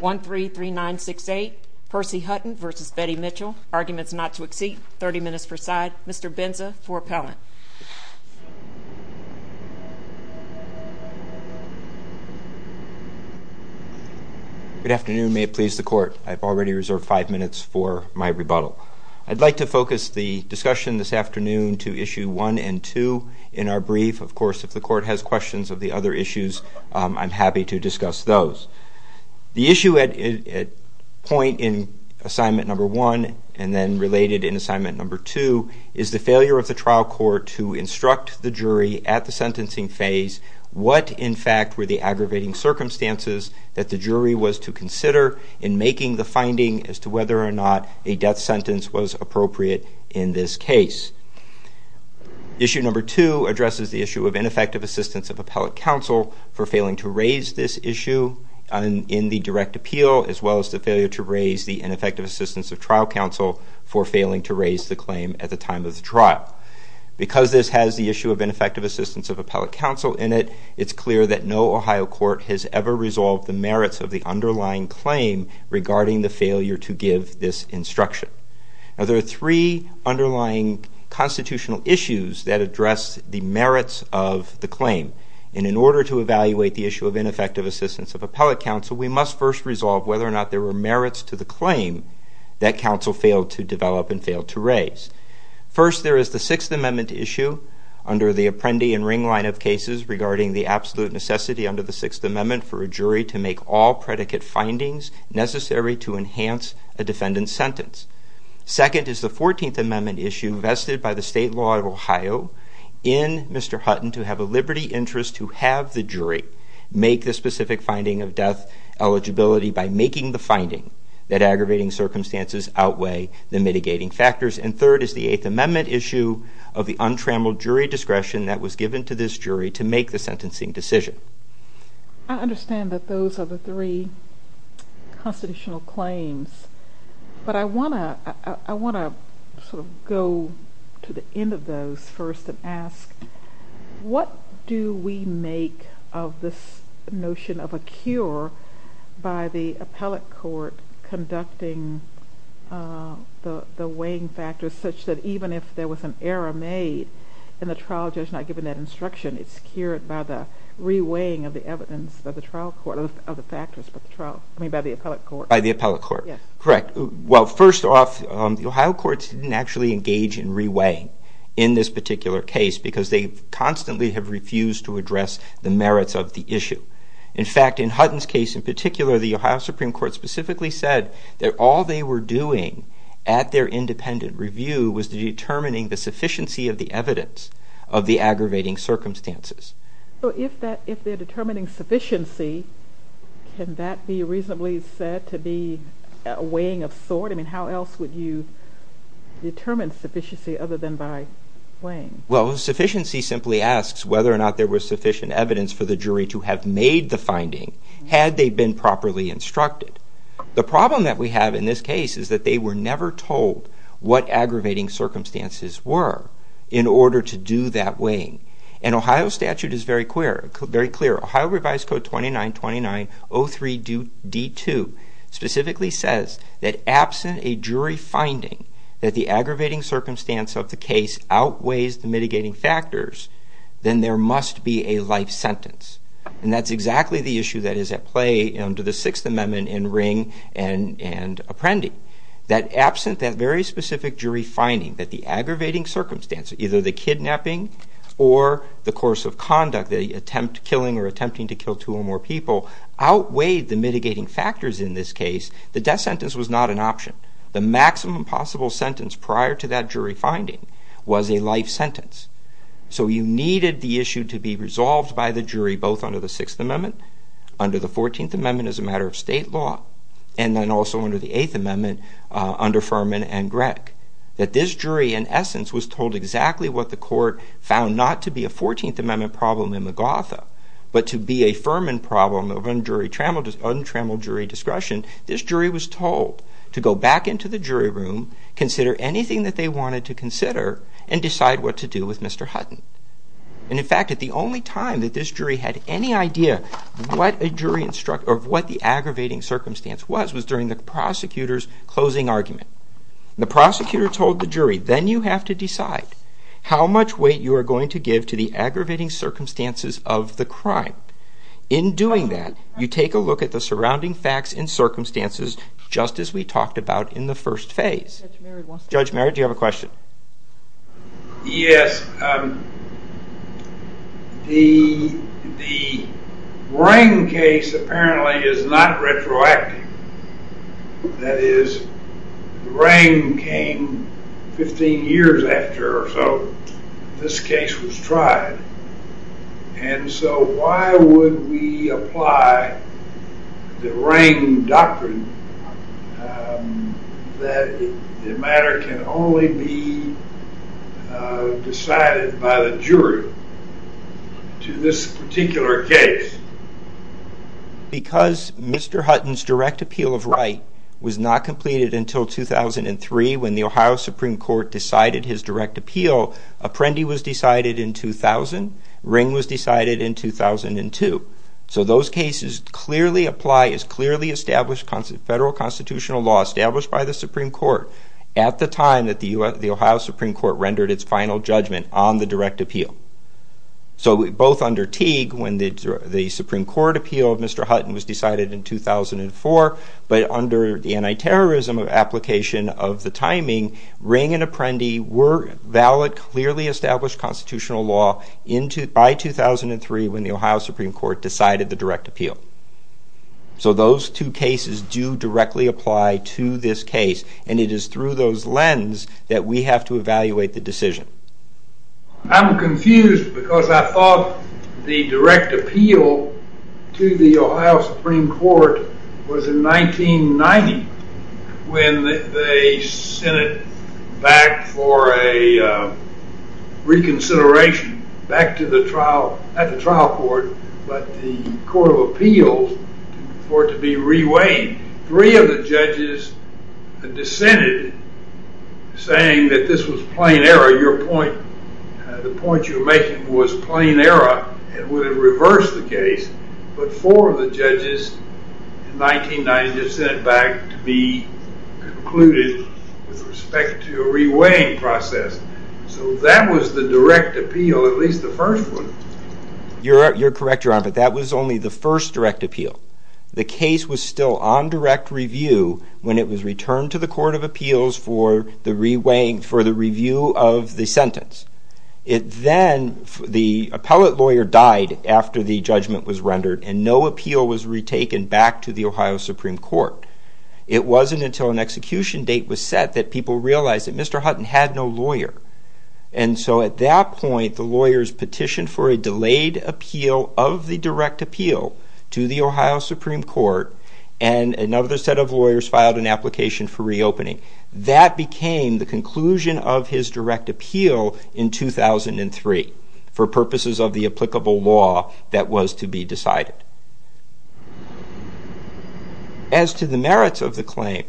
1-3-3-9-6-8. Percy Hutton versus Betty Mitchell. Arguments not to exceed 30 minutes per side. Mr. Benza for appellant. Good afternoon. May it please the court. I've already reserved five minutes for my rebuttal. I'd like to focus the discussion this afternoon to issue one and two in our brief. Of course, if the court has questions of the other issues, I'm happy to discuss those. The issue at point in assignment number one and then related in assignment number two is the failure of the trial court to instruct the jury at the sentencing phase what, in fact, were the aggravating circumstances that the jury was to consider in making the finding as to whether or not a death sentence was appropriate in this case. Issue number two addresses the issue of ineffective assistance of appellate counsel for failing to raise this issue in the direct appeal as well as the failure to raise the ineffective assistance of trial counsel for failing to raise the claim at the time of the trial. Because this has the issue of ineffective assistance of appellate counsel in it, it's clear that no Ohio court has ever resolved the merits of the underlying claim regarding the failure to give this the merits of the claim. And in order to evaluate the issue of ineffective assistance of appellate counsel, we must first resolve whether or not there were merits to the claim that counsel failed to develop and failed to raise. First, there is the Sixth Amendment issue under the Apprendi and Ring line of cases regarding the absolute necessity under the Sixth Amendment for a jury to make all predicate findings necessary to enhance a defendant's sentence. Second is the Fourteenth Amendment issue vested by the state law of Ohio in Mr. Hutton to have a liberty interest to have the jury make the specific finding of death eligibility by making the finding that aggravating circumstances outweigh the mitigating factors. And third is the Eighth Amendment issue of the untrammeled jury discretion that was given to this jury to make the sentencing decision. I understand that those are the three constitutional claims, but I want to sort of go to the end of those first and ask, what do we make of this notion of a cure by the appellate court conducting the weighing factors such that even if there was an error made and the trial judge not given that instruction, it's cured by the re-weighing of the evidence of the trial court, of the factors of the trial, I mean by the appellate court. By the appellate court, correct. Well, first off, the Ohio courts didn't actually engage in re-weighing in this particular case because they constantly have refused to address the merits of the issue. In fact, in Hutton's case in particular, the Ohio Supreme Court specifically said that all they were doing at their independent review was determining the sufficiency of the evidence of the aggravating circumstances. So if that, if they're determining sufficiency, can that be determined sufficiency other than by weighing? Well, sufficiency simply asks whether or not there was sufficient evidence for the jury to have made the finding had they been properly instructed. The problem that we have in this case is that they were never told what aggravating circumstances were in order to do that weighing, and Ohio statute is very clear. Ohio statute is very clear. If there is a jury finding that the aggravating circumstance of the case outweighs the mitigating factors, then there must be a life sentence. And that's exactly the issue that is at play under the Sixth Amendment in Ring and Apprendi. That absent that very specific jury finding that the aggravating circumstances, either the kidnapping or the course of conduct, the attempt killing or attempting to kill two or more people, outweighed the mitigating factors in this case, the death sentence was not an option. The maximum possible sentence prior to that jury finding was a life sentence. So you needed the issue to be resolved by the jury both under the Sixth Amendment, under the Fourteenth Amendment as a matter of state law, and then also under the Eighth Amendment under Furman and Gregg. That this jury, in essence, was told exactly what the court found not to be a Fourteenth Amendment problem in the Gotha, but to be a Furman problem of untrammeled jury discretion, this jury was told to go back into the jury room, consider anything that they wanted to consider, and decide what to do with Mr. Hutton. And in fact, at the only time that this jury had any idea what a jury instruct, or what the aggravating circumstance was, was during the prosecutor's closing argument. The prosecutor told the jury, then you have to decide how much weight you are going to give to the aggravating circumstances of the crime. In doing that, you take a look at the surrounding facts and circumstances, just as we talked about in the first phase. Judge Merritt, do you have a question? Yes, the Rang case apparently is not retroactive. That is, Rang came 15 years after or so this would we apply the Rang doctrine that the matter can only be decided by the jury to this particular case? Because Mr. Hutton's direct appeal of right was not completed until 2003, when the Ohio Supreme Court decided his direct appeal, Apprendi was decided in 2000, Rang was decided in 2002. So those cases clearly apply as clearly established federal constitutional law, established by the Supreme Court, at the time that the Ohio Supreme Court rendered its final judgment on the direct appeal. So both under Teague, when the Supreme Court appeal of Mr. Hutton was decided in 2004, but under the anti-terrorism application of the timing, Rang and Apprendi were valid, clearly established constitutional law by 2003, when the Ohio Supreme Court decided the direct appeal. So those two cases do directly apply to this case, and it is through those lens that we have to evaluate the decision. I'm confused because I thought the direct appeal, when they sent it back for a reconsideration back to the trial, at the trial court, but the Court of Appeals for it to be re-weighed, three of the judges dissented, saying that this was plain error, your point, the point you were making was plain error and would have reversed the case, but four of the judges in 1990 just sent it back to be concluded with respect to a re-weighing process. So that was the direct appeal, at least the first one. You're correct, your honor, but that was only the first direct appeal. The case was still on direct review when it was returned to the Court of Appeals for the re-weighing, for the review of the sentence. It then, the appellate lawyer died after the case was taken back to the Ohio Supreme Court. It wasn't until an execution date was set that people realized that Mr. Hutton had no lawyer, and so at that point, the lawyers petitioned for a delayed appeal of the direct appeal to the Ohio Supreme Court, and another set of lawyers filed an application for re-opening. That became the conclusion of his direct appeal in 2003, for purposes of the applicable law that was to be decided. As to the merits of the claim,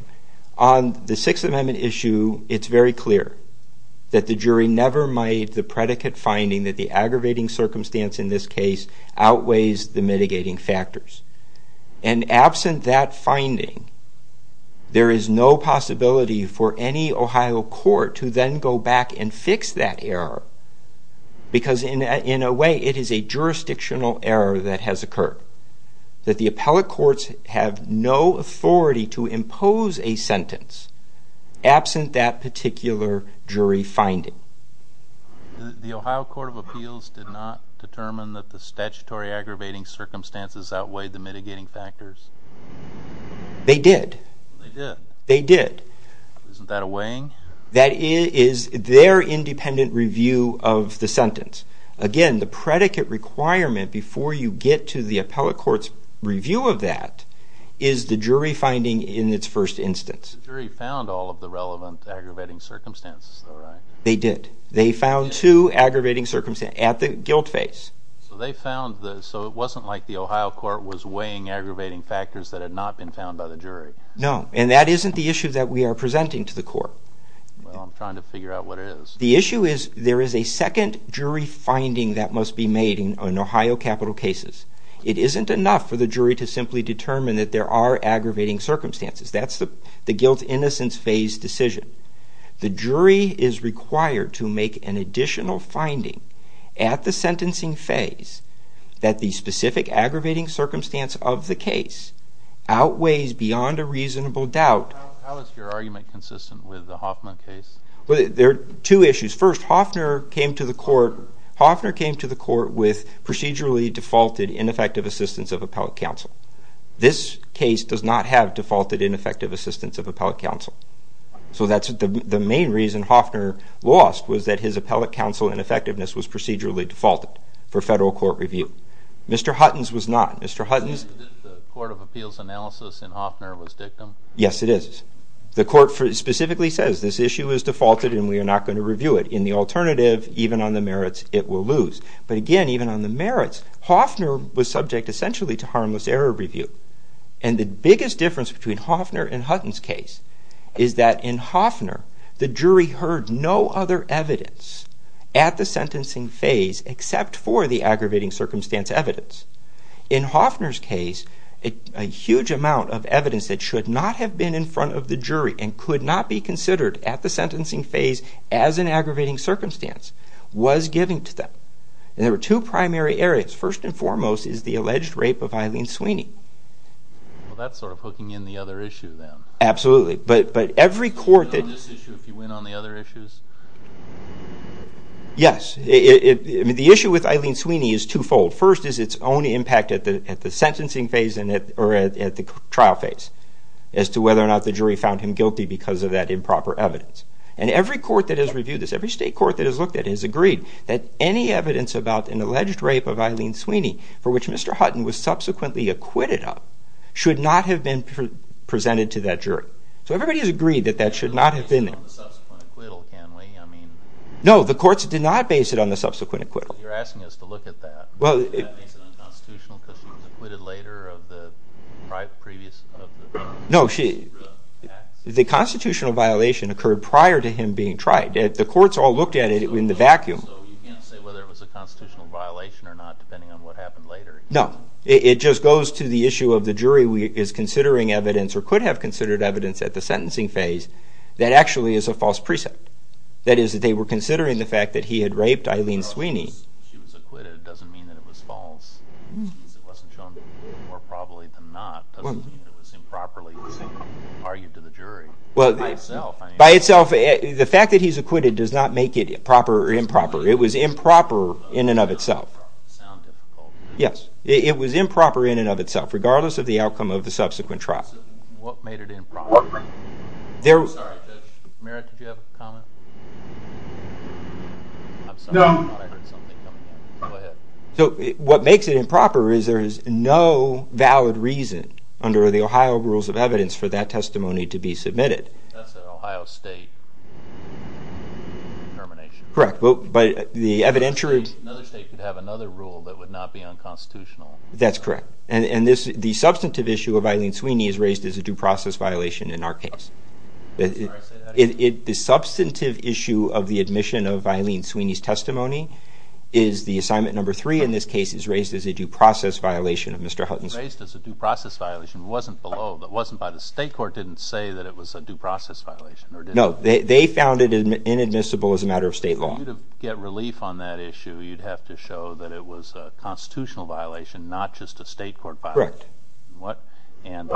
on the Sixth Amendment issue, it's very clear that the jury never made the predicate finding that the aggravating circumstance in this case outweighs the mitigating factors, and absent that finding, there is no possibility for any Ohio court to then go back and fix that error, because in a way, it is a jurisdictional error that has occurred. That the appellate courts have no authority to impose a sentence, absent that particular jury finding. The Ohio Court of Appeals did not determine that the statutory aggravating circumstances outweighed the mitigating factors? They did. They did? They did. Isn't that a weighing? That is their independent review of the sentence. Again, the predicate requirement, before you get to the appellate court's review of that, is the jury finding in its first instance. The jury found all of the relevant aggravating circumstances, though, right? They did. They found two aggravating circumstances, at the guilt phase. So they found, so it wasn't like the Ohio court was weighing aggravating factors that had not been found by the jury? No, and that isn't the issue that we are presenting to the court. Well, I'm trying to figure out what it is. The issue is there is a second jury finding that must be made in Ohio capital cases. It isn't enough for the jury to simply determine that there are aggravating circumstances. That's the guilt innocence phase decision. The jury is required to make an additional finding at the sentencing phase that the specific aggravating circumstance of the case outweighs beyond a reasonable doubt. How is your argument consistent with the Hoffner case? Well, there are two issues. First, Hoffner came to the court with procedurally defaulted ineffective assistance of appellate counsel. This case does not have defaulted ineffective assistance of appellate counsel. So that's the main reason Hoffner lost, was that his appellate counsel ineffectiveness was procedurally defaulted for federal court review. Mr. Hutton's was not. The Court of Appeals analysis in Hoffner was dictum? Yes, it is. The court specifically says this issue is defaulted and we are not going to review it. In the alternative, even on the merits, it will lose. But again, even on the merits, Hoffner was subject essentially to harmless error review. And the biggest difference between Hoffner and Hutton's case is that in Hoffner, the jury heard no other evidence at the sentencing phase except for the aggravating circumstance evidence. In Hoffner's case, a huge amount of evidence that should not have been in front of the jury and could not be considered at the sentencing phase as an aggravating circumstance was given to them. And there were two primary areas. First and foremost is the alleged rape of Eileen Sweeney. Well, that's sort of hooking in the other issue then. Absolutely. But every court that... Would you win on this issue if you win on the other issues? Yes. The issue with Eileen Sweeney is twofold. First is its own impact at the sentencing phase or at the trial phase as to whether or not the jury found him guilty because of that improper evidence. And every court that has reviewed this, every state court that has looked at it has agreed that any evidence about an alleged rape of Eileen Sweeney for which Mr. Hutton was subsequently acquitted of should not have been presented to that jury. So everybody has agreed that that should not have been there. You're not basing it on the subsequent acquittal, can we? No, the courts did not base it on the subsequent acquittal. Well, you're asking us to look at that. Does that make it unconstitutional because he was acquitted later of the previous... No, the constitutional violation occurred prior to him being tried. The courts all looked at it in the vacuum. So you can't say whether it was a constitutional violation or not depending on what happened later. No. It just goes to the issue of the jury is considering evidence or could have considered evidence at the sentencing phase that actually is a false precept. That is, that they were considering the fact that he had raped Eileen Sweeney. By itself, the fact that he's acquitted does not make it proper or improper. It was improper in and of itself. It was improper in and of itself regardless of the outcome of the subsequent trial. I'm sorry, I thought I heard something coming in. Go ahead. So what makes it improper is there is no valid reason under the Ohio Rules of Evidence for that testimony to be submitted. That's an Ohio State determination. Correct, but the evidentiary... Another state could have another rule that would not be unconstitutional. That's correct. And the substantive issue of Eileen Sweeney is raised as a due process violation in our case. Sorry, say that again. The substantive issue of the admission of Eileen Sweeney's testimony is the assignment number 3 in this case is raised as a due process violation of Mr. Hutton's... Raised as a due process violation. It wasn't below, it wasn't by the state court. It didn't say that it was a due process violation. No, they found it inadmissible as a matter of state law. For you to get relief on that issue, you'd have to show that it was a constitutional violation, not just a state court violation. Correct. And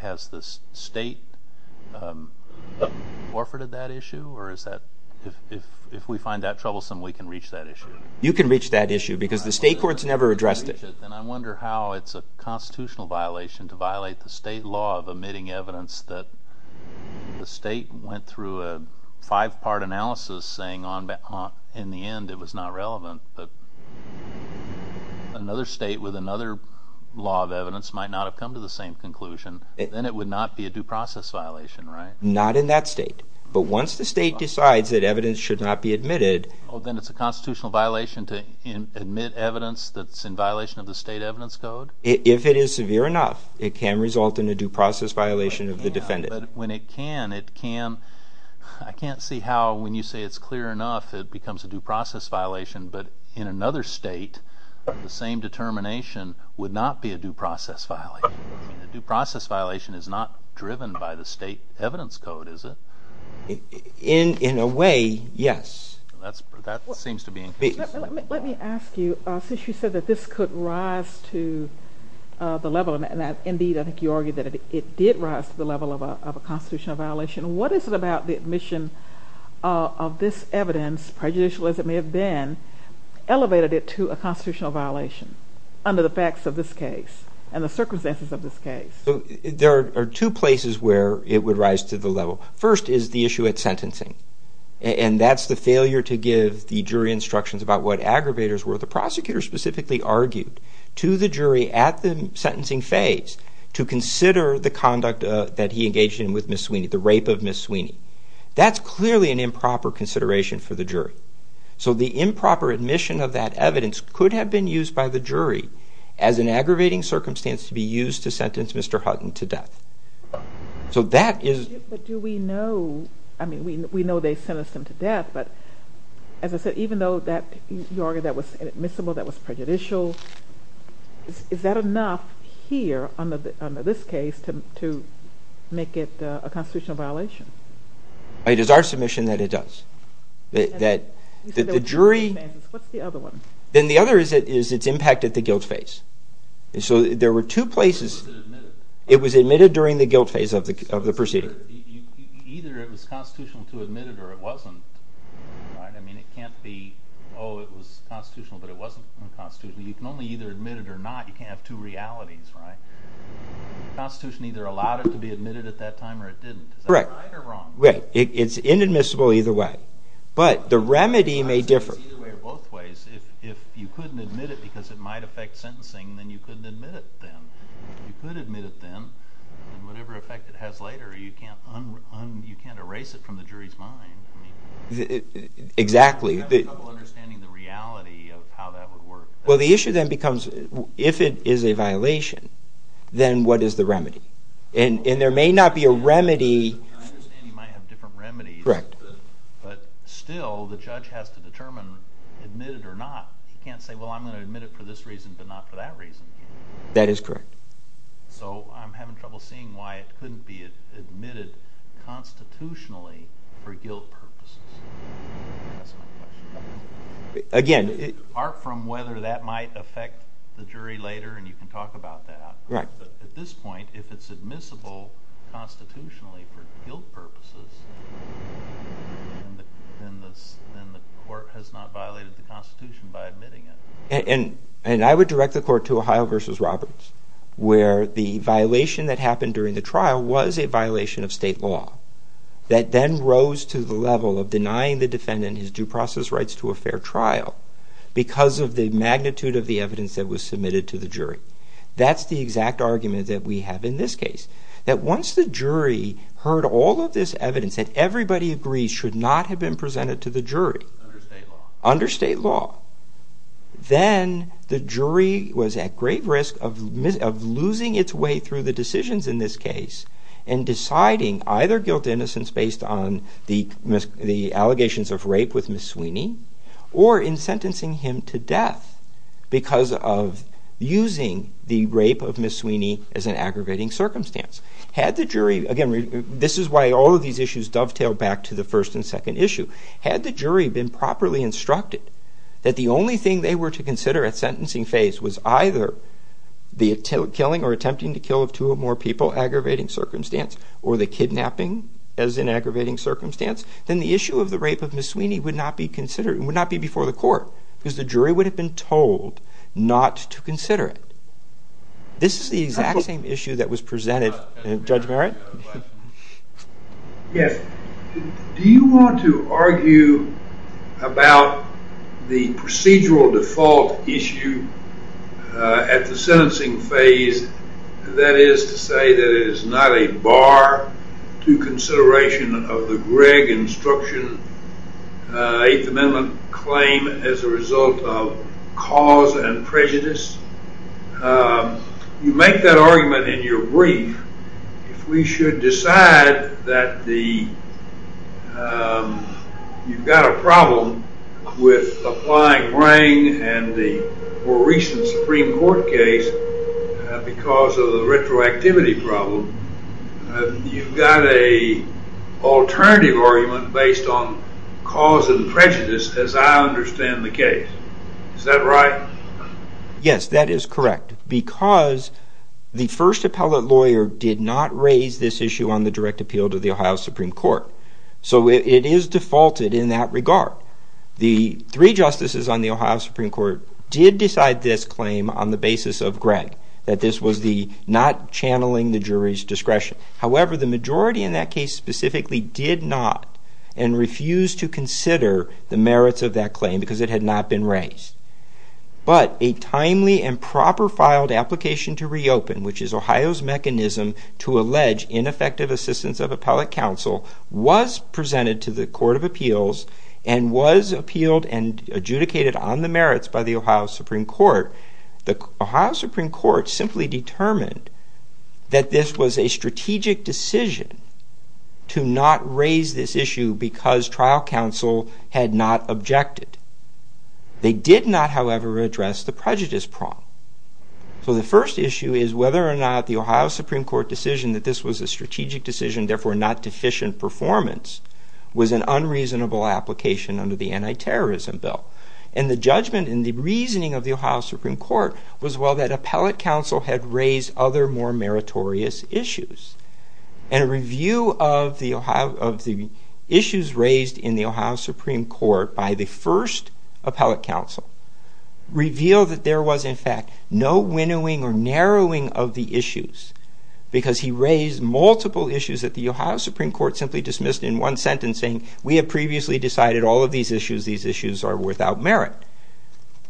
has the state forfeited that issue, or if we find that troublesome, we can reach that issue? You can reach that issue because the state courts never addressed it. Then I wonder how it's a constitutional violation to violate the state law of omitting evidence that the state went through a five-part analysis saying in the end it was not relevant, that another state with another law of evidence might not have come to the same conclusion. Then it would not be a due process violation, right? Not in that state. But once the state decides that evidence should not be admitted... Then it's a constitutional violation to omit evidence that's in violation of the state evidence code? If it is severe enough, it can result in a due process violation of the defendant. But when it can, it can. I can't see how when you say it's clear enough, it becomes a due process violation, but in another state, the same determination would not be a due process violation. A due process violation is not driven by the state evidence code, is it? In a way, yes. That seems to be in case. Let me ask you, since you said that this could rise to the level, and indeed I think you argued that it did rise to the level of a constitutional violation, what is it about the admission of this evidence, prejudicial as it may have been, elevated it to a constitutional violation under the facts of this case and the circumstances of this case? There are two places where it would rise to the level. First is the issue at sentencing, and that's the failure to give the jury instructions about what aggravators were. The prosecutor specifically argued to the jury at the sentencing phase to consider the conduct that he engaged in with Ms. Sweeney, the rape of Ms. Sweeney. That's clearly an improper consideration for the jury. So the improper admission of that evidence could have been used by the jury as an aggravating circumstance to be used to sentence Mr. Hutton to death. But do we know, I mean, we know they sentenced him to death, but as I said, even though you argued that was admissible, that was prejudicial, is that enough here under this case to make it a constitutional violation? It is our submission that it does. You said there were two instances. What's the other one? Then the other is its impact at the guilt phase. So there were two places. Or was it admitted? It was admitted during the guilt phase of the proceeding. Either it was constitutional to admit it or it wasn't. I mean, it can't be, oh, it was constitutional but it wasn't constitutional. You can only either admit it or not. You can't have two realities, right? The Constitution either allowed it to be admitted at that time or it didn't. Is that right or wrong? Right. It's inadmissible either way. But the remedy may differ. Either way or both ways. If you couldn't admit it because it might affect sentencing, then you couldn't admit it then. If you could admit it then, whatever effect it has later, you can't erase it from the jury's mind. Exactly. You have trouble understanding the reality of how that would work. Well, the issue then becomes if it is a violation, then what is the remedy? And there may not be a remedy. I understand you might have different remedies. Correct. But still the judge has to determine, admit it or not. He can't say, well, I'm going to admit it for this reason but not for that reason. That is correct. So I'm having trouble seeing why it couldn't be admitted constitutionally for guilt purposes. That's my question. Again... Apart from whether that might affect the jury later, and you can talk about that. Right. But at this point, if it's admissible constitutionally for guilt purposes, then the court has not violated the Constitution by admitting it. And I would direct the court to Ohio v. Roberts where the violation that happened during the trial was a violation of state law that then rose to the level of denying the defendant his due process rights to a fair trial because of the magnitude of the evidence that was submitted to the jury. That's the exact argument that we have in this case. That once the jury heard all of this evidence that everybody agrees should not have been presented to the jury... Under state law. Then the jury was at great risk of losing its way through the decisions in this case and deciding either guilt-to-innocence based on the allegations of rape with Ms. Sweeney or in sentencing him to death because of using the rape of Ms. Sweeney as an aggravating circumstance. Had the jury... Again, this is why all of these issues dovetail back to the first and second issue. Had the jury been properly instructed that the only thing they were to consider at sentencing phase was either the killing or attempting to kill of two or more people, aggravating circumstance, or the kidnapping as an aggravating circumstance, then the issue of the rape of Ms. Sweeney would not be before the court because the jury would have been told not to consider it. This is the exact same issue that was presented... Judge Merritt? Yes. Do you want to argue about the procedural default issue at the sentencing phase, that is to say that it is not a bar to consideration of the Gregg instruction, Eighth Amendment claim as a result of cause and prejudice? You make that argument in your brief. If we should decide that you've got a problem with applying brain and the more recent Supreme Court case because of the retroactivity problem, you've got an alternative argument based on cause and prejudice as I understand the case. Is that right? Yes, that is correct because the first appellate lawyer did not raise this issue on the direct appeal to the Ohio Supreme Court. So it is defaulted in that regard. The three justices on the Ohio Supreme Court did decide this claim on the basis of Gregg, that this was not channeling the jury's discretion. However, the majority in that case specifically did not and refused to consider the merits of that claim because it had not been raised. But a timely and proper filed application to reopen, which is Ohio's mechanism to allege ineffective assistance of appellate counsel, was presented to the Court of Appeals and was appealed and adjudicated on the merits by the Ohio Supreme Court. The Ohio Supreme Court simply determined that this was a strategic decision to not raise this issue because trial counsel had not objected. They did not, however, address the prejudice problem. So the first issue is whether or not the Ohio Supreme Court decision that this was a strategic decision, therefore not deficient performance, was an unreasonable application under the anti-terrorism bill. And the judgment and the reasoning of the Ohio Supreme Court was well that appellate counsel had raised other more meritorious issues. And a review of the issues raised in the Ohio Supreme Court by the first appellate counsel revealed that there was, in fact, no winnowing or narrowing of the issues because he raised multiple issues that the Ohio Supreme Court simply dismissed in one sentence saying, we have previously decided all of these issues, these issues are without merit.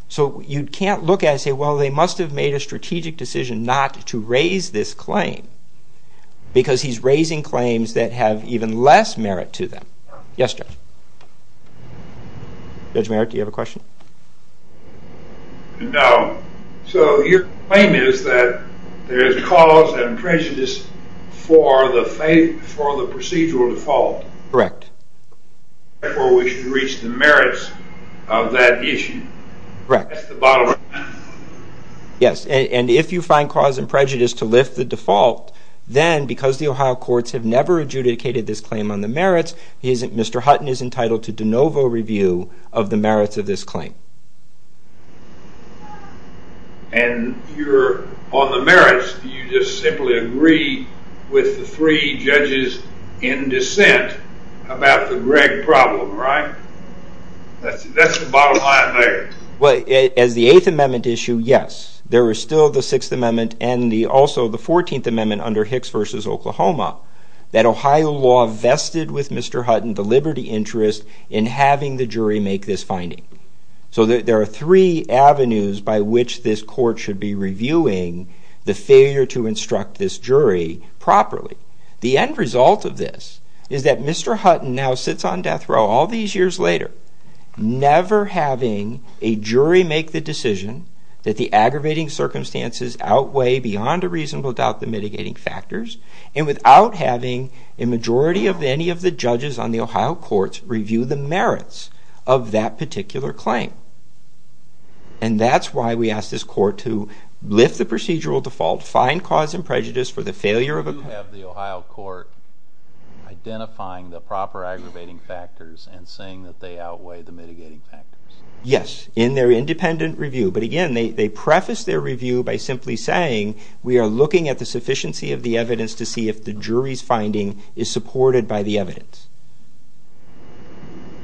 So you can't look at it and say, well, they must have made a strategic decision not to raise this claim because he's raising claims that have even less merit to them. Yes, Judge. Judge Merritt, do you have a question? No. So your claim is that there is cause and prejudice for the procedural default. Correct. Therefore, we should reach the merits of that issue. Correct. That's the bottom line. Yes. And if you find cause and prejudice to lift the default, then because the Ohio courts have never adjudicated this claim on the merits, Mr. Hutton is entitled to de novo review of the merits of this claim. And on the merits, do you just simply agree with the three judges in dissent about the Greg problem, right? That's the bottom line there. As the Eighth Amendment issue, yes, there was still the Sixth Amendment and also the Fourteenth Amendment under Hicks v. Oklahoma that Ohio law vested with Mr. Hutton the liberty interest in having the jury make this finding. So there are three avenues by which this court should be reviewing the failure to instruct this jury properly. The end result of this is that Mr. Hutton now sits on death row all these years later, never having a jury make the decision that the aggravating circumstances outweigh beyond a reasonable doubt the mitigating factors, and without having a majority of any of the judges on the Ohio courts review the merits of that particular claim. And that's why we ask this court to lift the procedural default, find cause and prejudice for the failure of a claim. Do you have the Ohio court identifying the proper aggravating factors and saying that they outweigh the mitigating factors? Yes, in their independent review. But again, they preface their review by simply saying, we are looking at the sufficiency of the evidence to see if the jury's finding is supported by the evidence.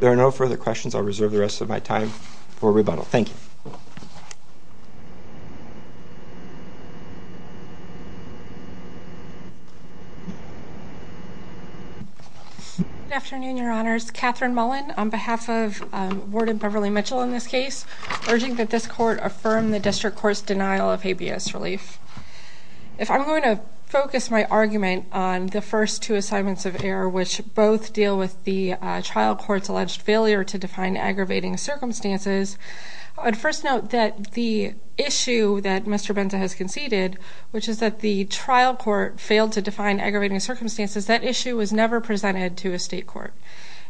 There are no further questions. I'll reserve the rest of my time for rebuttal. Thank you. Good afternoon, Your Honors. Catherine Mullen on behalf of Warden Beverly Mitchell in this case, urging that this court affirm the district court's denial of Habeas relief. If I'm going to focus my argument on the first two assignments of error, which both deal with the trial court's alleged failure to define aggravating circumstances, I'd first note that the issue that Mr. Benza has conceded, which is that the trial court failed to define aggravating circumstances, that issue was never presented to a state court.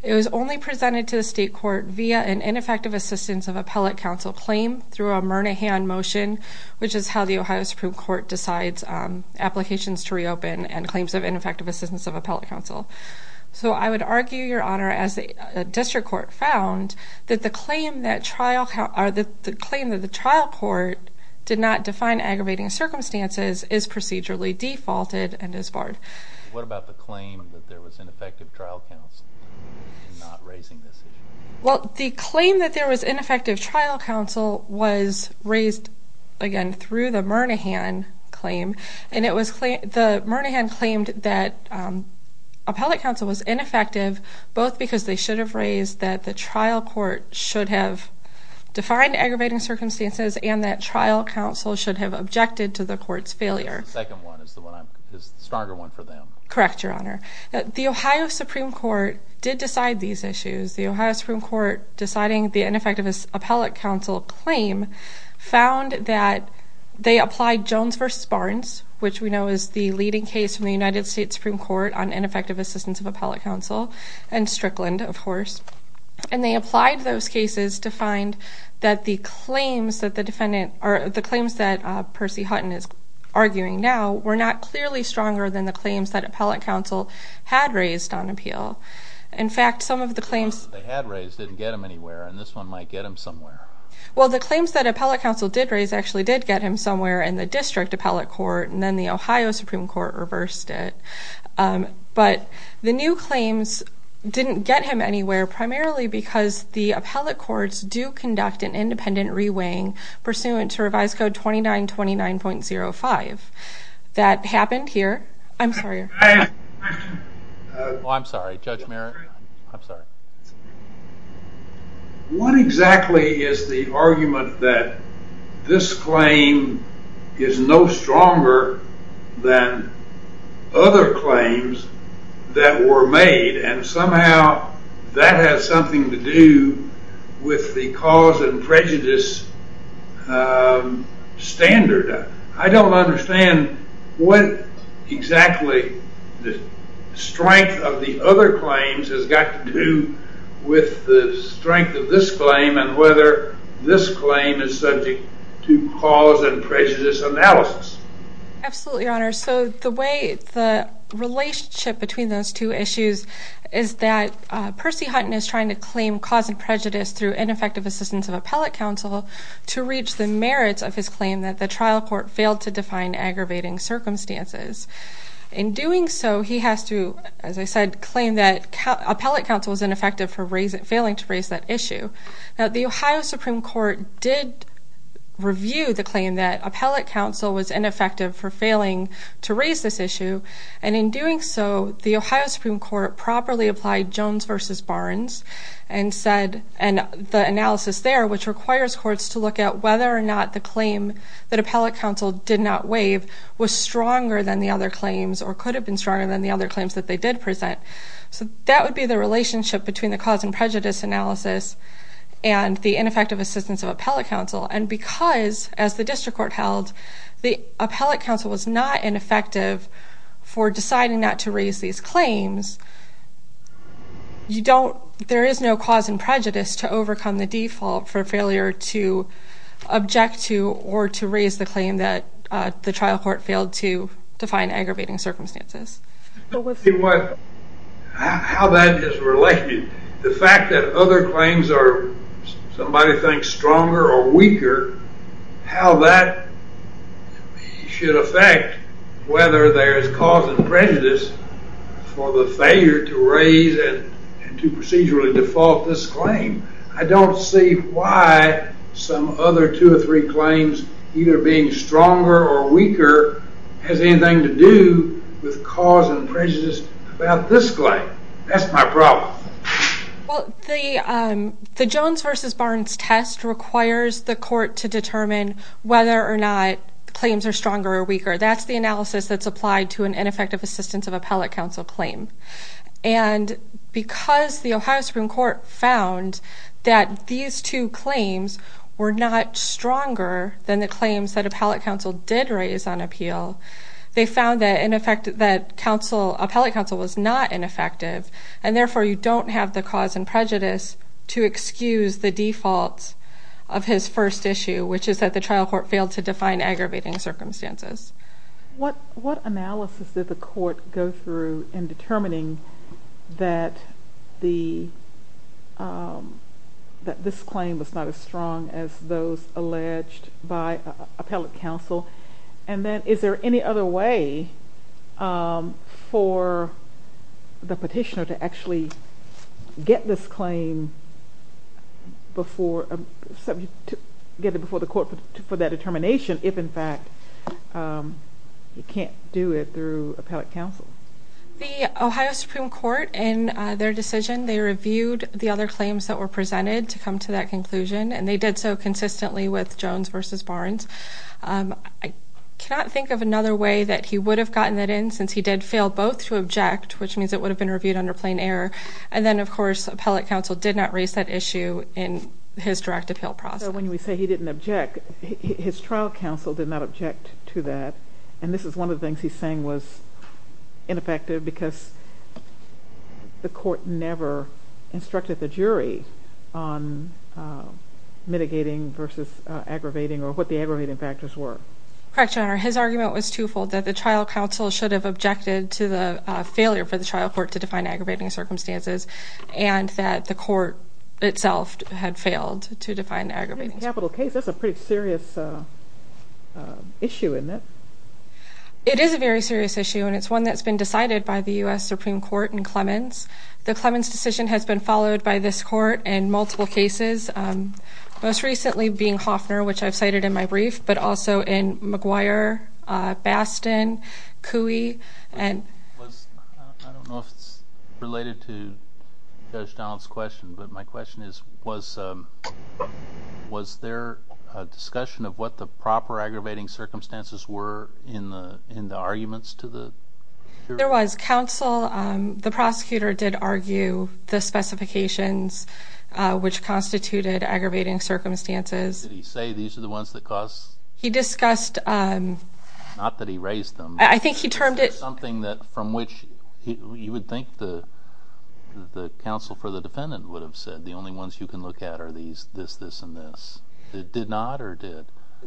It was only presented to the state court via an ineffective assistance of appellate counsel claim through a Murnahan motion, which is how the Ohio Supreme Court decides applications to reopen and claims of ineffective assistance of appellate counsel. I would argue, Your Honor, as the district court found, that the claim that the trial court did not define aggravating circumstances is procedurally defaulted and is barred. What about the claim that there was ineffective trial counsel in not raising this issue? The claim that there was ineffective trial counsel was raised, again, through the Murnahan claim. The Murnahan claimed that appellate counsel was ineffective, both because they should have raised that the trial court should have defined aggravating circumstances and that trial counsel should have objected to the court's failure. The second one is the stronger one for them. Correct, Your Honor. The Ohio Supreme Court did decide these issues. The Ohio Supreme Court, deciding the ineffective appellate counsel claim, found that they applied Jones v. Barnes, which we know is the leading case in the United States Supreme Court on ineffective assistance of appellate counsel, and Strickland, of course. And they applied those cases to find that the claims that the defendant or the claims that Percy Hutton is arguing now were not clearly stronger than the claims that appellate counsel had raised on appeal. In fact, some of the claims that they had raised didn't get them anywhere, and this one might get them somewhere. Well, the claims that appellate counsel did raise actually did get him somewhere in the district appellate court, and then the Ohio Supreme Court reversed it. But the new claims didn't get him anywhere, primarily because the appellate courts do conduct an independent re-weighing pursuant to Revised Code 2929.05. That happened here. I'm sorry. Oh, I'm sorry, Judge Merritt. I'm sorry. What exactly is the argument that this claim is no stronger than other claims that were made, and somehow that has something to do with the cause and prejudice standard? I don't understand what exactly the strength of the other claims has got to do with the strength of this claim and whether this claim is subject to cause and prejudice analysis. Absolutely, Your Honor. So the way the relationship between those two issues is that Percy Hutton is trying to claim cause and prejudice through ineffective assistance of appellate counsel to reach the merits of his claim that the trial court failed to define aggravating circumstances. In doing so, he has to, as I said, claim that appellate counsel was ineffective for failing to raise that issue. Now, the Ohio Supreme Court did review the claim that appellate counsel was ineffective for failing to raise this issue, and in doing so, the Ohio Supreme Court properly applied Jones v. Barnes and the analysis there, which requires courts to look at whether or not the claim that appellate counsel did not waive was stronger than the other claims or could have been stronger than the other claims that they did present. So that would be the relationship between the cause and prejudice analysis and the ineffective assistance of appellate counsel. And because, as the district court held, the appellate counsel was not ineffective for deciding not to raise these claims, there is no cause and prejudice to overcome the default for failure to object to or to raise the claim that the trial court failed to define aggravating circumstances. How that is related, the fact that other claims are, somebody thinks, stronger or weaker, how that should affect whether there is cause and prejudice for the failure to raise and to procedurally default this claim. I don't see why some other two or three claims, either being stronger or weaker, has anything to do with cause and prejudice about this claim. That's my problem. Well, the Jones v. Barnes test requires the court to determine whether or not claims are stronger or weaker. That's the analysis that's applied to an ineffective assistance of appellate counsel claim. And because the Ohio Supreme Court found that these two claims were not stronger than the claims that appellate counsel did raise on appeal, they found that appellate counsel was not ineffective, and therefore you don't have the cause and prejudice to excuse the defaults of his first issue, which is that the trial court failed to define aggravating circumstances. What analysis did the court go through in determining that this claim was not as strong as those alleged by appellate counsel? And then is there any other way for the petitioner to actually get this claim before the court for that determination if, in fact, he can't do it through appellate counsel? The Ohio Supreme Court, in their decision, they reviewed the other claims that were presented to come to that conclusion, and they did so consistently with Jones v. Barnes. I cannot think of another way that he would have gotten it in since he did fail both to object, which means it would have been reviewed under plain error, and then, of course, appellate counsel did not raise that issue in his direct appeal process. So when we say he didn't object, his trial counsel did not object to that, and this is one of the things he's saying was ineffective because the court never instructed the jury on mitigating versus aggravating or what the aggravating factors were. Correct, Your Honor. His argument was twofold, that the trial counsel should have objected to the failure for the trial court to define aggravating circumstances and that the court itself had failed to define aggravating circumstances. That's a pretty serious issue, isn't it? It is a very serious issue, and it's one that's been decided by the U.S. Supreme Court and Clemens. The Clemens decision has been followed by this court in multiple cases, most recently being Hofner, which I've cited in my brief, but also in McGuire, Bastin, Cooey. I don't know if it's related to Judge Donald's question, but my question is was there a discussion of what the proper aggravating circumstances were in the arguments to the jury? There was. Counsel, the prosecutor, did argue the specifications, which constituted aggravating circumstances. Did he say these are the ones that caused? He discussed. Not that he raised them. I think he termed it. Something from which you would think the counsel for the defendant would have said the only ones you can look at are these, this, this, and this. Did not or did?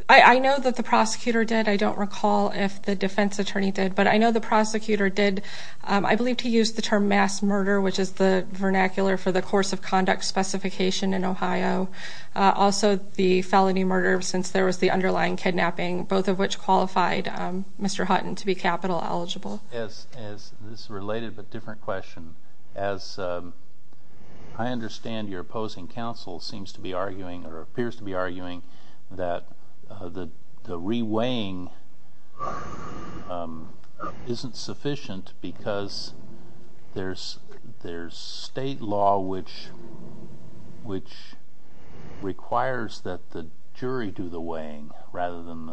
I know that the prosecutor did. I don't recall if the defense attorney did, but I know the prosecutor did, I believe, to use the term mass murder, which is the vernacular for the course of conduct specification in Ohio, also the felony murder since there was the underlying kidnapping, both of which qualified Mr. Hutton to be capital eligible. Yes. This is a related but different question. As I understand your opposing counsel seems to be arguing or appears to be arguing that the re-weighing isn't sufficient because there's state law which requires that the jury do the weighing rather than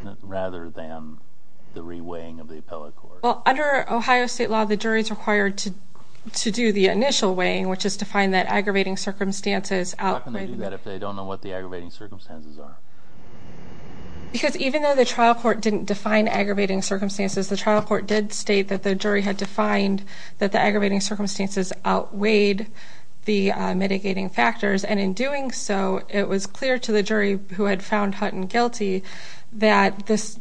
the re-weighing of the appellate court. Under Ohio state law, the jury is required to do the initial weighing, which is to find that aggravating circumstances outweighed. How can they do that if they don't know what the aggravating circumstances are? Because even though the trial court didn't define aggravating circumstances, the trial court did state that the jury had defined that the aggravating circumstances outweighed the mitigating factors, and in doing so it was clear to the jury who had found Hutton guilty that the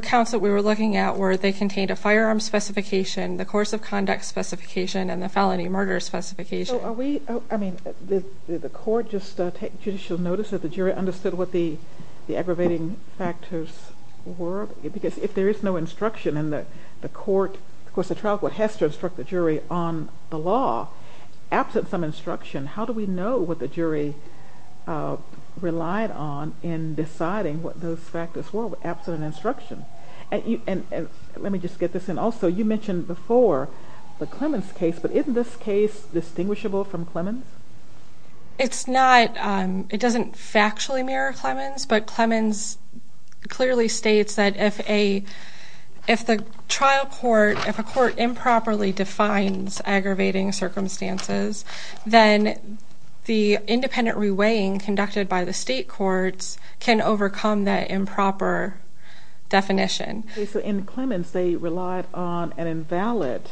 counts that we were looking at were they contained a firearm specification, the course of conduct specification, and the felony murder specification. Did the court just take judicial notice that the jury understood what the aggravating factors were? Because if there is no instruction in the court, of course the trial court has to instruct the jury on the law. Absent some instruction, how do we know what the jury relied on in deciding what those factors were? Absent an instruction. Let me just get this in. Also, you mentioned before the Clemens case, but isn't this case distinguishable from Clemens? It doesn't factually mirror Clemens, but Clemens clearly states that if the trial court, if a court improperly defines aggravating circumstances, then the independent reweighing conducted by the state courts can overcome that improper definition. In Clemens, they relied on an invalid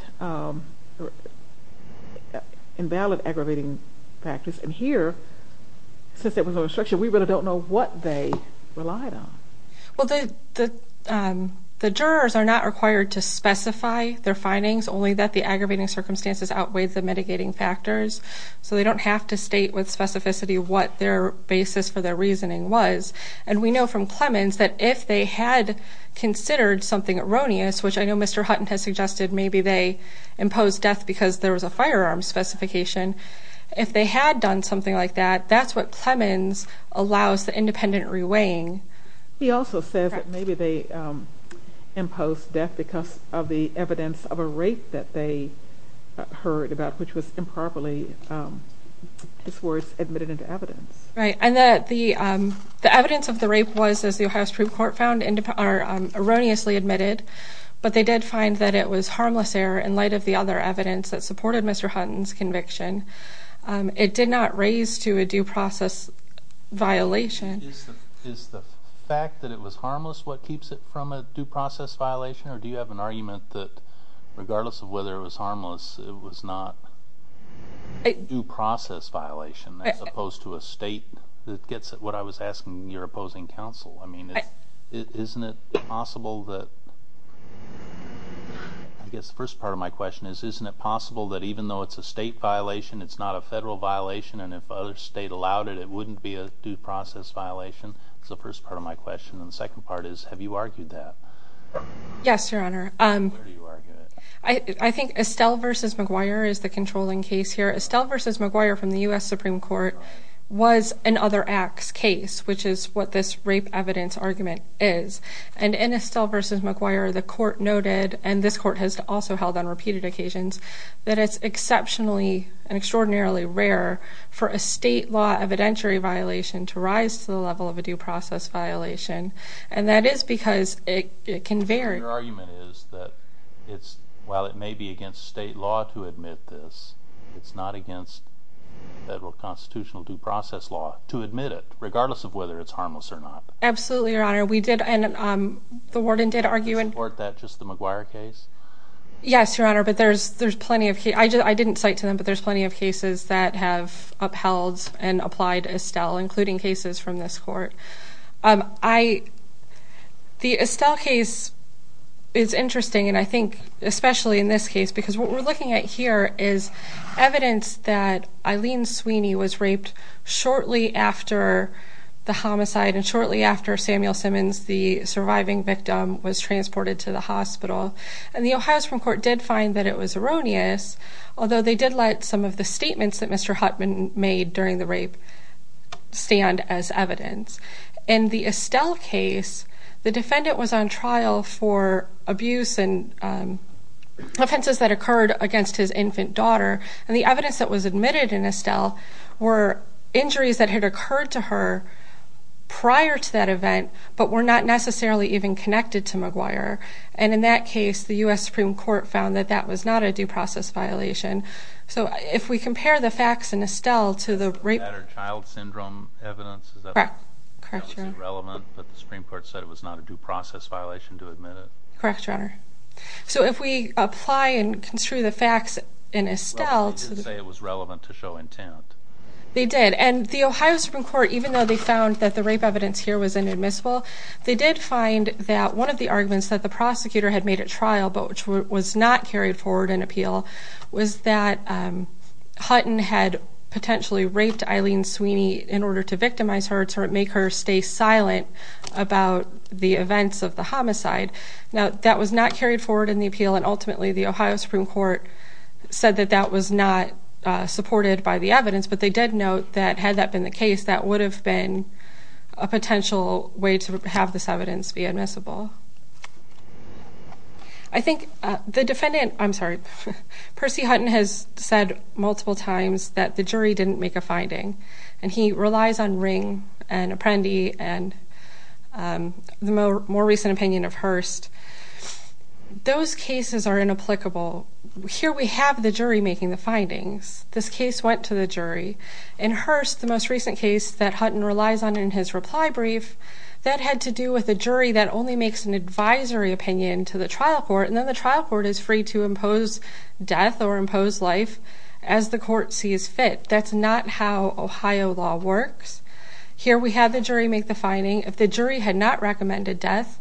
aggravating factors, and here, since there was no instruction, we really don't know what they relied on. Well, the jurors are not required to specify their findings, only that the aggravating circumstances outweigh the mitigating factors, so they don't have to state with specificity what their basis for their reasoning was. And we know from Clemens that if they had considered something erroneous, which I know Mr. Hutton has suggested maybe they imposed death because there was a firearm specification, if they had done something like that, that's what Clemens allows the independent reweighing. He also says that maybe they imposed death because of the evidence of a rape that they heard about, which was improperly, his words, admitted into evidence. Right, and that the evidence of the rape was, as the Ohio Supreme Court found, erroneously admitted, but they did find that it was harmless error in light of the other evidence that supported Mr. Hutton's conviction. It did not raise to a due process violation. Is the fact that it was harmless what keeps it from a due process violation, or do you have an argument that regardless of whether it was harmless, it was not a due process violation as opposed to a state that gets it? What I was asking your opposing counsel. I mean, isn't it possible that, I guess the first part of my question is, isn't it possible that even though it's a state violation, it's not a federal violation, and if a state allowed it, it wouldn't be a due process violation? That's the first part of my question. And the second part is, have you argued that? Yes, Your Honor. Where do you argue that? I think Estelle v. McGuire is the controlling case here. Estelle v. McGuire from the U.S. Supreme Court was an other acts case, which is what this rape evidence argument is. And in Estelle v. McGuire, the court noted, and this court has also held on repeated occasions, that it's exceptionally and extraordinarily rare for a state law evidentiary violation to rise to the level of a due process violation, and that is because it can vary. Your argument is that while it may be against state law to admit this, it's not against federal constitutional due process law to admit it, Absolutely, Your Honor. Does the court support that, just the McGuire case? Yes, Your Honor, but there's plenty of cases. I didn't cite to them, but there's plenty of cases that have upheld and applied Estelle, including cases from this court. The Estelle case is interesting, and I think especially in this case, because what we're looking at here is evidence that Eileen Sweeney was raped shortly after the homicide, and shortly after Samuel Simmons, the surviving victim, was transported to the hospital. And the Ohio Supreme Court did find that it was erroneous, although they did let some of the statements that Mr. Huttman made during the rape stand as evidence. In the Estelle case, the defendant was on trial for abuse and offenses that occurred against his infant daughter, and the evidence that was admitted in Estelle were injuries that had occurred to her prior to that event, but were not necessarily even connected to McGuire. And in that case, the U.S. Supreme Court found that that was not a due process violation. So if we compare the facts in Estelle to the rape... Is that a child syndrome evidence? Correct. That was irrelevant, but the Supreme Court said it was not a due process violation to admit it. Correct, Your Honor. So if we apply and construe the facts in Estelle... Well, they did say it was relevant to show intent. They did, and the Ohio Supreme Court, even though they found that the rape evidence here was inadmissible, they did find that one of the arguments that the prosecutor had made at trial, but which was not carried forward in appeal, was that Hutton had potentially raped Eileen Sweeney in order to victimize her, to make her stay silent about the events of the homicide. Now, that was not carried forward in the appeal, and ultimately the Ohio Supreme Court said that that was not supported by the evidence, but they did note that had that been the case, that would have been a potential way to have this evidence be admissible. I think the defendant... I'm sorry. Percy Hutton has said multiple times that the jury didn't make a finding, and he relies on Ring and Apprendi and the more recent opinion of Hearst. Those cases are inapplicable. Here we have the jury making the findings. This case went to the jury. In Hearst, the most recent case that Hutton relies on in his reply brief, that had to do with a jury that only makes an advisory opinion to the trial court, and then the trial court is free to impose death or impose life as the court sees fit. That's not how Ohio law works. Here we have the jury make the finding. If the jury had not recommended death,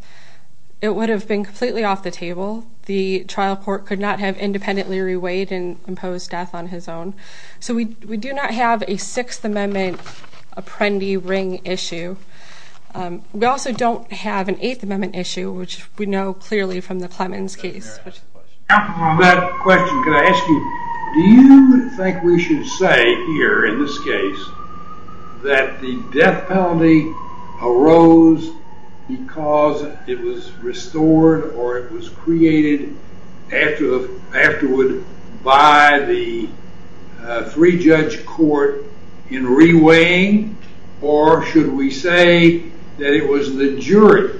it would have been completely off the table. The trial court could not have independently reweighed and imposed death on his own. So we do not have a Sixth Amendment Apprendi-Ring issue. We also don't have an Eighth Amendment issue, which we know clearly from the Clemens case. On that question, can I ask you, do you think we should say here in this case that the death penalty arose because it was restored or it was created afterward by the three-judge court in reweighing, or should we say that it was the jury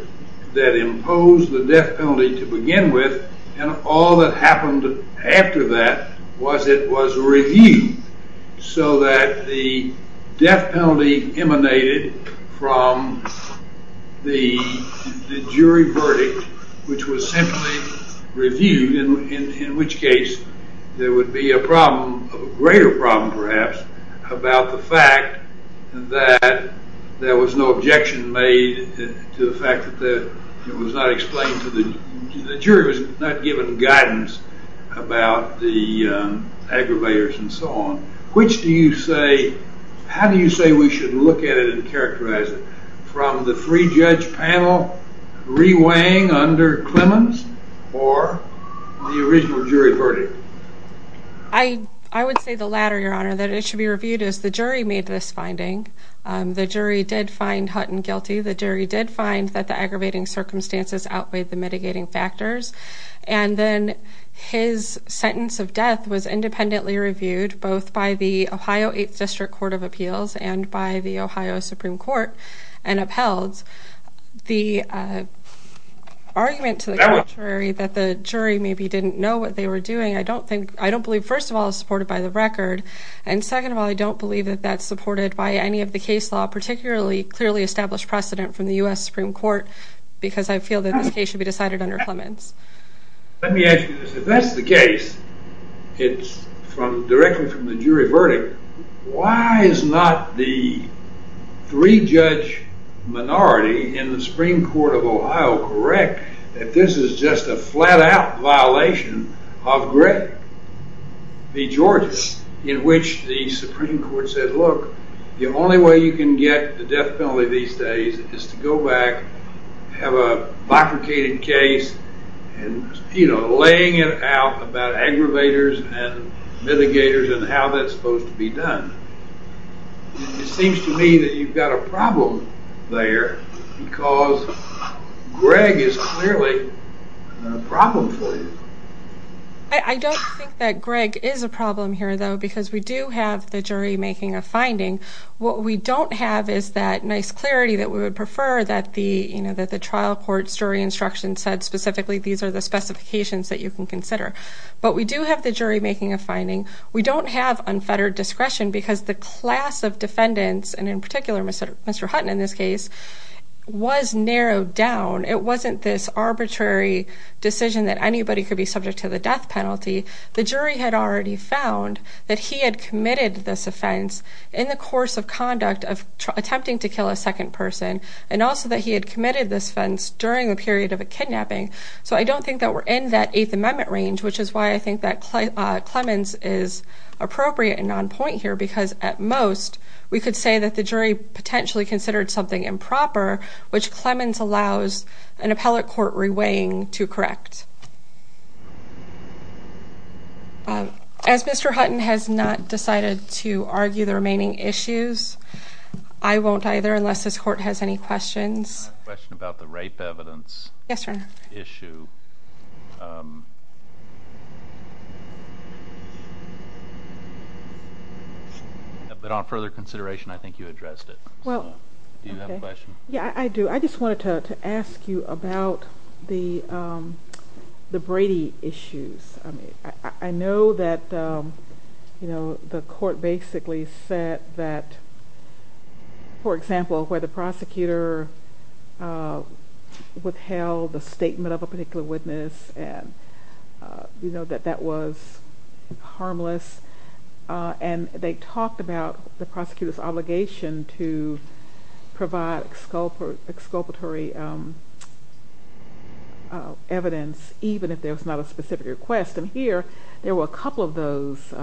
that imposed the death penalty to begin with, and all that happened after that was it was reviewed so that the death penalty emanated from the jury verdict, which was simply reviewed, in which case there would be a problem, a greater problem perhaps, about the fact that there was no objection made to the fact that it was not explained to the jury, the jury was not given guidance about the aggravators and so on. How do you say we should look at it and characterize it, from the three-judge panel reweighing under Clemens or the original jury verdict? I would say the latter, Your Honor, that it should be reviewed as the jury made this finding. The jury did find Hutton guilty. The jury did find that the aggravating circumstances outweighed the mitigating factors. And then his sentence of death was independently reviewed both by the Ohio 8th District Court of Appeals and by the Ohio Supreme Court and upheld. The argument to the contrary, that the jury maybe didn't know what they were doing, I don't believe, first of all, is supported by the record, and second of all, I don't believe that that's supported by any of the case law, particularly clearly established precedent from the U.S. Supreme Court because I feel that this case should be decided under Clemens. Let me ask you this. If that's the case, it's directly from the jury verdict, why is not the three-judge minority in the Supreme Court of Ohio correct that this is just a flat-out violation of Greg B. George's, in which the Supreme Court said, look, the only way you can get the death penalty these days is to go back, have a bifurcated case, and laying it out about aggravators and mitigators and how that's supposed to be done. It seems to me that you've got a problem there because Greg is clearly a problem for you. I don't think that Greg is a problem here, though, because we do have the jury making a finding. What we don't have is that nice clarity that we would prefer that the trial court's jury instruction said specifically these are the specifications that you can consider. But we do have the jury making a finding. We don't have unfettered discretion because the class of defendants, and in particular Mr. Hutton in this case, was narrowed down. It wasn't this arbitrary decision that anybody could be subject to the death penalty. The jury had already found that he had committed this offense in the course of conduct of attempting to kill a second person, and also that he had committed this offense during the period of a kidnapping. So I don't think that we're in that Eighth Amendment range, which is why I think that Clemens is appropriate and on point here because, at most, we could say that the jury potentially considered something improper, which Clemens allows an appellate court reweighing to correct. As Mr. Hutton has not decided to argue the remaining issues, I won't either, unless this court has any questions. I have a question about the rape evidence issue. But on further consideration, I think you addressed it. Do you have a question? Yeah, I do. I wanted to ask you about the Brady issues. I know that the court basically said that, for example, where the prosecutor withheld the statement of a particular witness and that that was harmless, and they talked about the prosecutor's obligation to provide exculpatory evidence, even if there was not a specific request. And here, there were a couple of those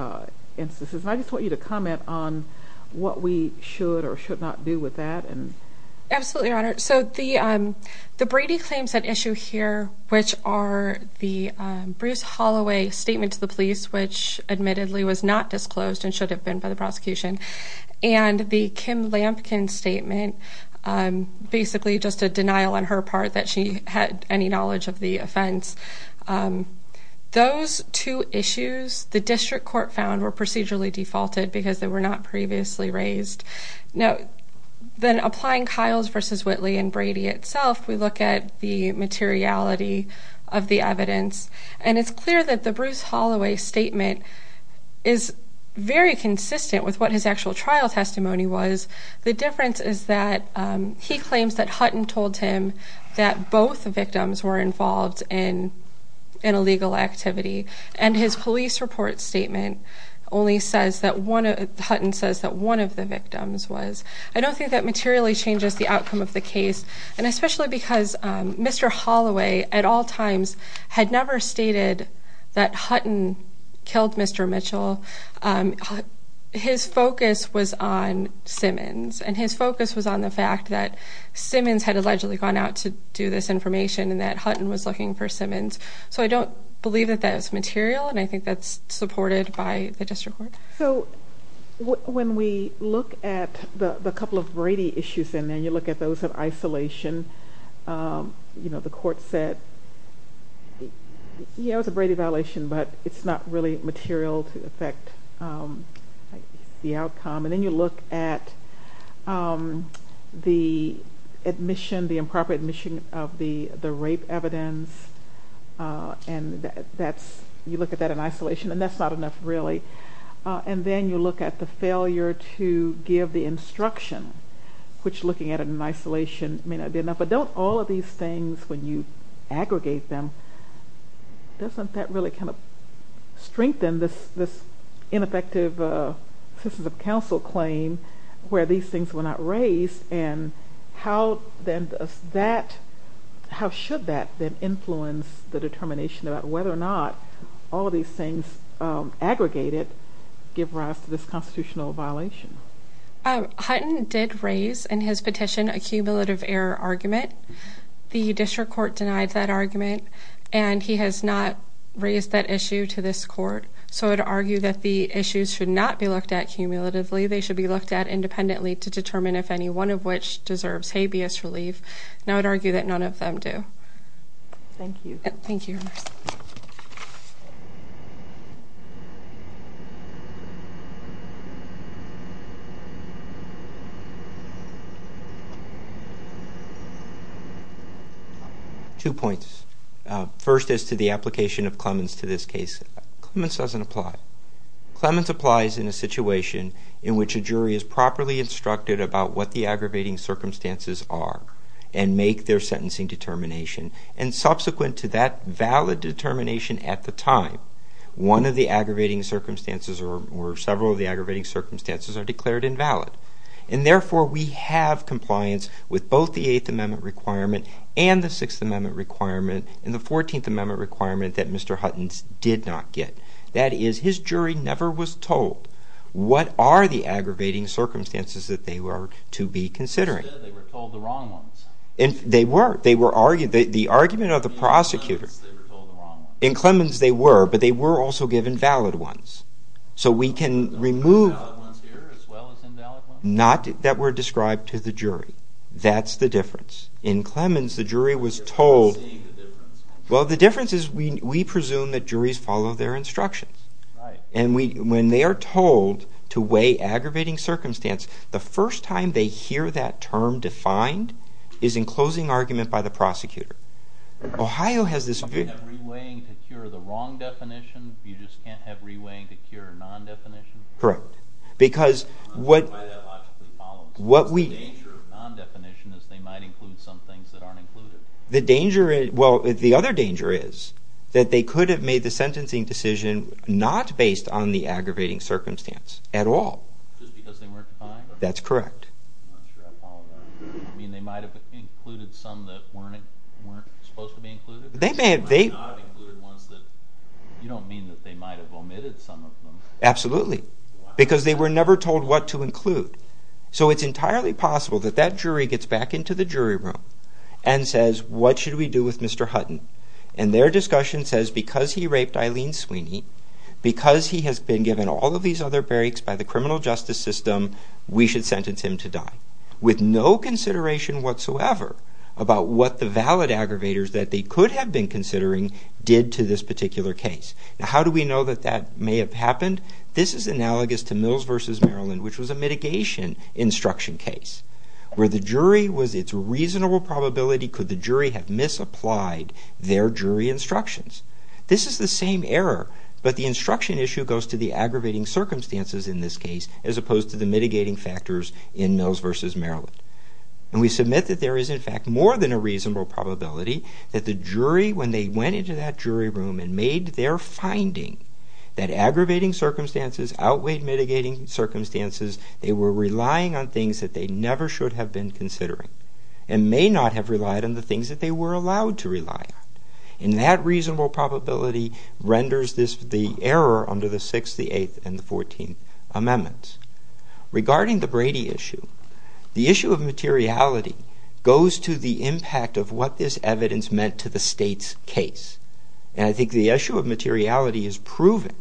instances. I just want you to comment on what we should or should not do with that. Absolutely, Your Honor. So the Brady claims at issue here, which are the Bruce Holloway statement to the police, which admittedly was not disclosed and should have been by the prosecution, and the Kim Lampkin statement, basically just a denial on her part that she had any knowledge of the offense. Those two issues, the district court found, were procedurally defaulted because they were not previously raised. Now, then applying Kiles v. Whitley and Brady itself, we look at the materiality of the evidence, and it's clear that the Bruce Holloway statement is very consistent with what his actual trial testimony was. The difference is that he claims that Hutton told him that both victims were involved in an illegal activity, and his police report statement only says that one of the victims was. I don't think that materially changes the outcome of the case, and especially because Mr. Holloway at all times had never stated that Hutton killed Mr. Mitchell. His focus was on Simmons, and his focus was on the fact that Simmons had allegedly gone out to do this information and that Hutton was looking for Simmons. So I don't believe that that is material, and I think that's supported by the district court. So when we look at the couple of Brady issues in there, you look at those of isolation, you know, the court said, yeah, it was a Brady violation, but it's not really material to affect the outcome. And then you look at the admission, the improper admission of the rape evidence, and you look at that in isolation, and that's not enough really. And then you look at the failure to give the instruction, which looking at it in isolation may not be enough. But don't all of these things, when you aggregate them, doesn't that really kind of strengthen this ineffective systems of counsel claim where these things were not raised? And how should that then influence the determination about whether or not all of these things aggregated give rise to this constitutional violation? Hutton did raise in his petition a cumulative error argument. The district court denied that argument, and he has not raised that issue to this court. So I would argue that the issues should not be looked at cumulatively. They should be looked at independently to determine if any one of which deserves habeas relief. And I would argue that none of them do. Thank you. Thank you. Two points. First is to the application of Clemens to this case. Clemens doesn't apply. Clemens applies in a situation in which a jury is properly instructed about what the aggravating circumstances are and make their sentencing determination. And subsequent to that valid determination at the time, one of the aggravating circumstances or several of the aggravating circumstances are declared invalid. And therefore, we have compliance with both the Eighth Amendment requirement and the Sixth Amendment requirement and the Fourteenth Amendment requirement that Mr. Hutton did not get. That is, his jury never was told what are the aggravating circumstances that they were to be considering. They were told the wrong ones. They were. The argument of the prosecutor. In Clemens, they were told the wrong ones. So we can remove... Not that were described to the jury. That's the difference. In Clemens, the jury was told... Well, the difference is we presume that juries follow their instructions. And when they are told to weigh aggravating circumstance, the first time they hear that term defined is in closing argument by the prosecutor. Ohio has this... You can't have reweighing to cure the wrong definition? You just can't have reweighing to cure non-definition? Correct. Because what we... The danger of non-definition is they might include some things that aren't included. The danger is... Well, the other danger is that they could have made the sentencing decision not based on the aggravating circumstance at all. Just because they weren't defined? That's correct. I'm not sure I follow that. You mean they might have included some that weren't supposed to be included? You don't mean that they might have omitted some of them? Absolutely. Because they were never told what to include. So it's entirely possible that that jury gets back into the jury room and says, what should we do with Mr. Hutton? And their discussion says, because he raped Eileen Sweeney, because he has been given all of these other breaks by the criminal justice system, we should sentence him to die. With no consideration whatsoever about what the valid aggravators that they could have been considering did to this particular case. Now, how do we know that that may have happened? This is analogous to Mills v. Maryland, which was a mitigation instruction case where the jury was at reasonable probability could the jury have misapplied their jury instructions. This is the same error, but the instruction issue goes to the aggravating circumstances in this case as opposed to the mitigating factors in Mills v. Maryland. And we submit that there is, in fact, more than a reasonable probability that the jury, when they went into that jury room and made their finding that aggravating circumstances, outweighed mitigating circumstances, they were relying on things that they never should have been considering and may not have relied on the things that they were allowed to rely on. And that reasonable probability renders this the error under the 6th, the 8th, and the 14th Amendments. Regarding the Brady issue, the issue of materiality goes to the impact of what this evidence meant to the state's case. And I think the issue of materiality is proven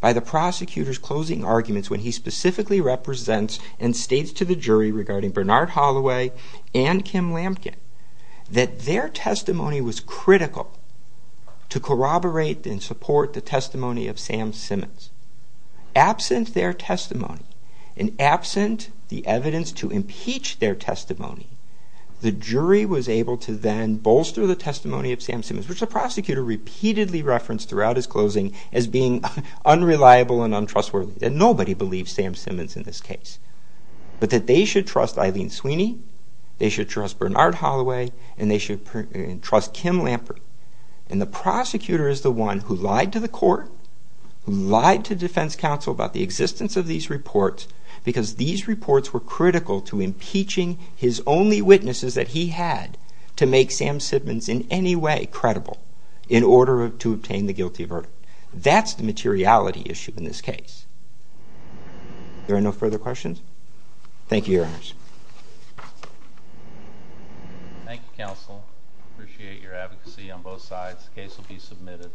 by the prosecutor's closing arguments when he specifically represents and states to the jury regarding Bernard Holloway and Kim Lamkin that their testimony was critical to corroborate and support the testimony of Sam Simmons. Absent their testimony and absent the evidence to impeach their testimony, the jury was able to then bolster the testimony of Sam Simmons, which the prosecutor repeatedly referenced throughout his closing as being unreliable and untrustworthy. And nobody believes Sam Simmons in this case. But that they should trust Eileen Sweeney, they should trust Bernard Holloway, and they should trust Kim Lamkin. And the prosecutor is the one who lied to the court, lied to defense counsel about the existence of these reports, because these reports were critical to impeaching his only witnesses that he had to make Sam Simmons in any way credible in order to obtain the guilty verdict. That's the materiality issue in this case. There are no further questions? Thank you, Your Honors. Appreciate your advocacy on both sides. The case will be submitted.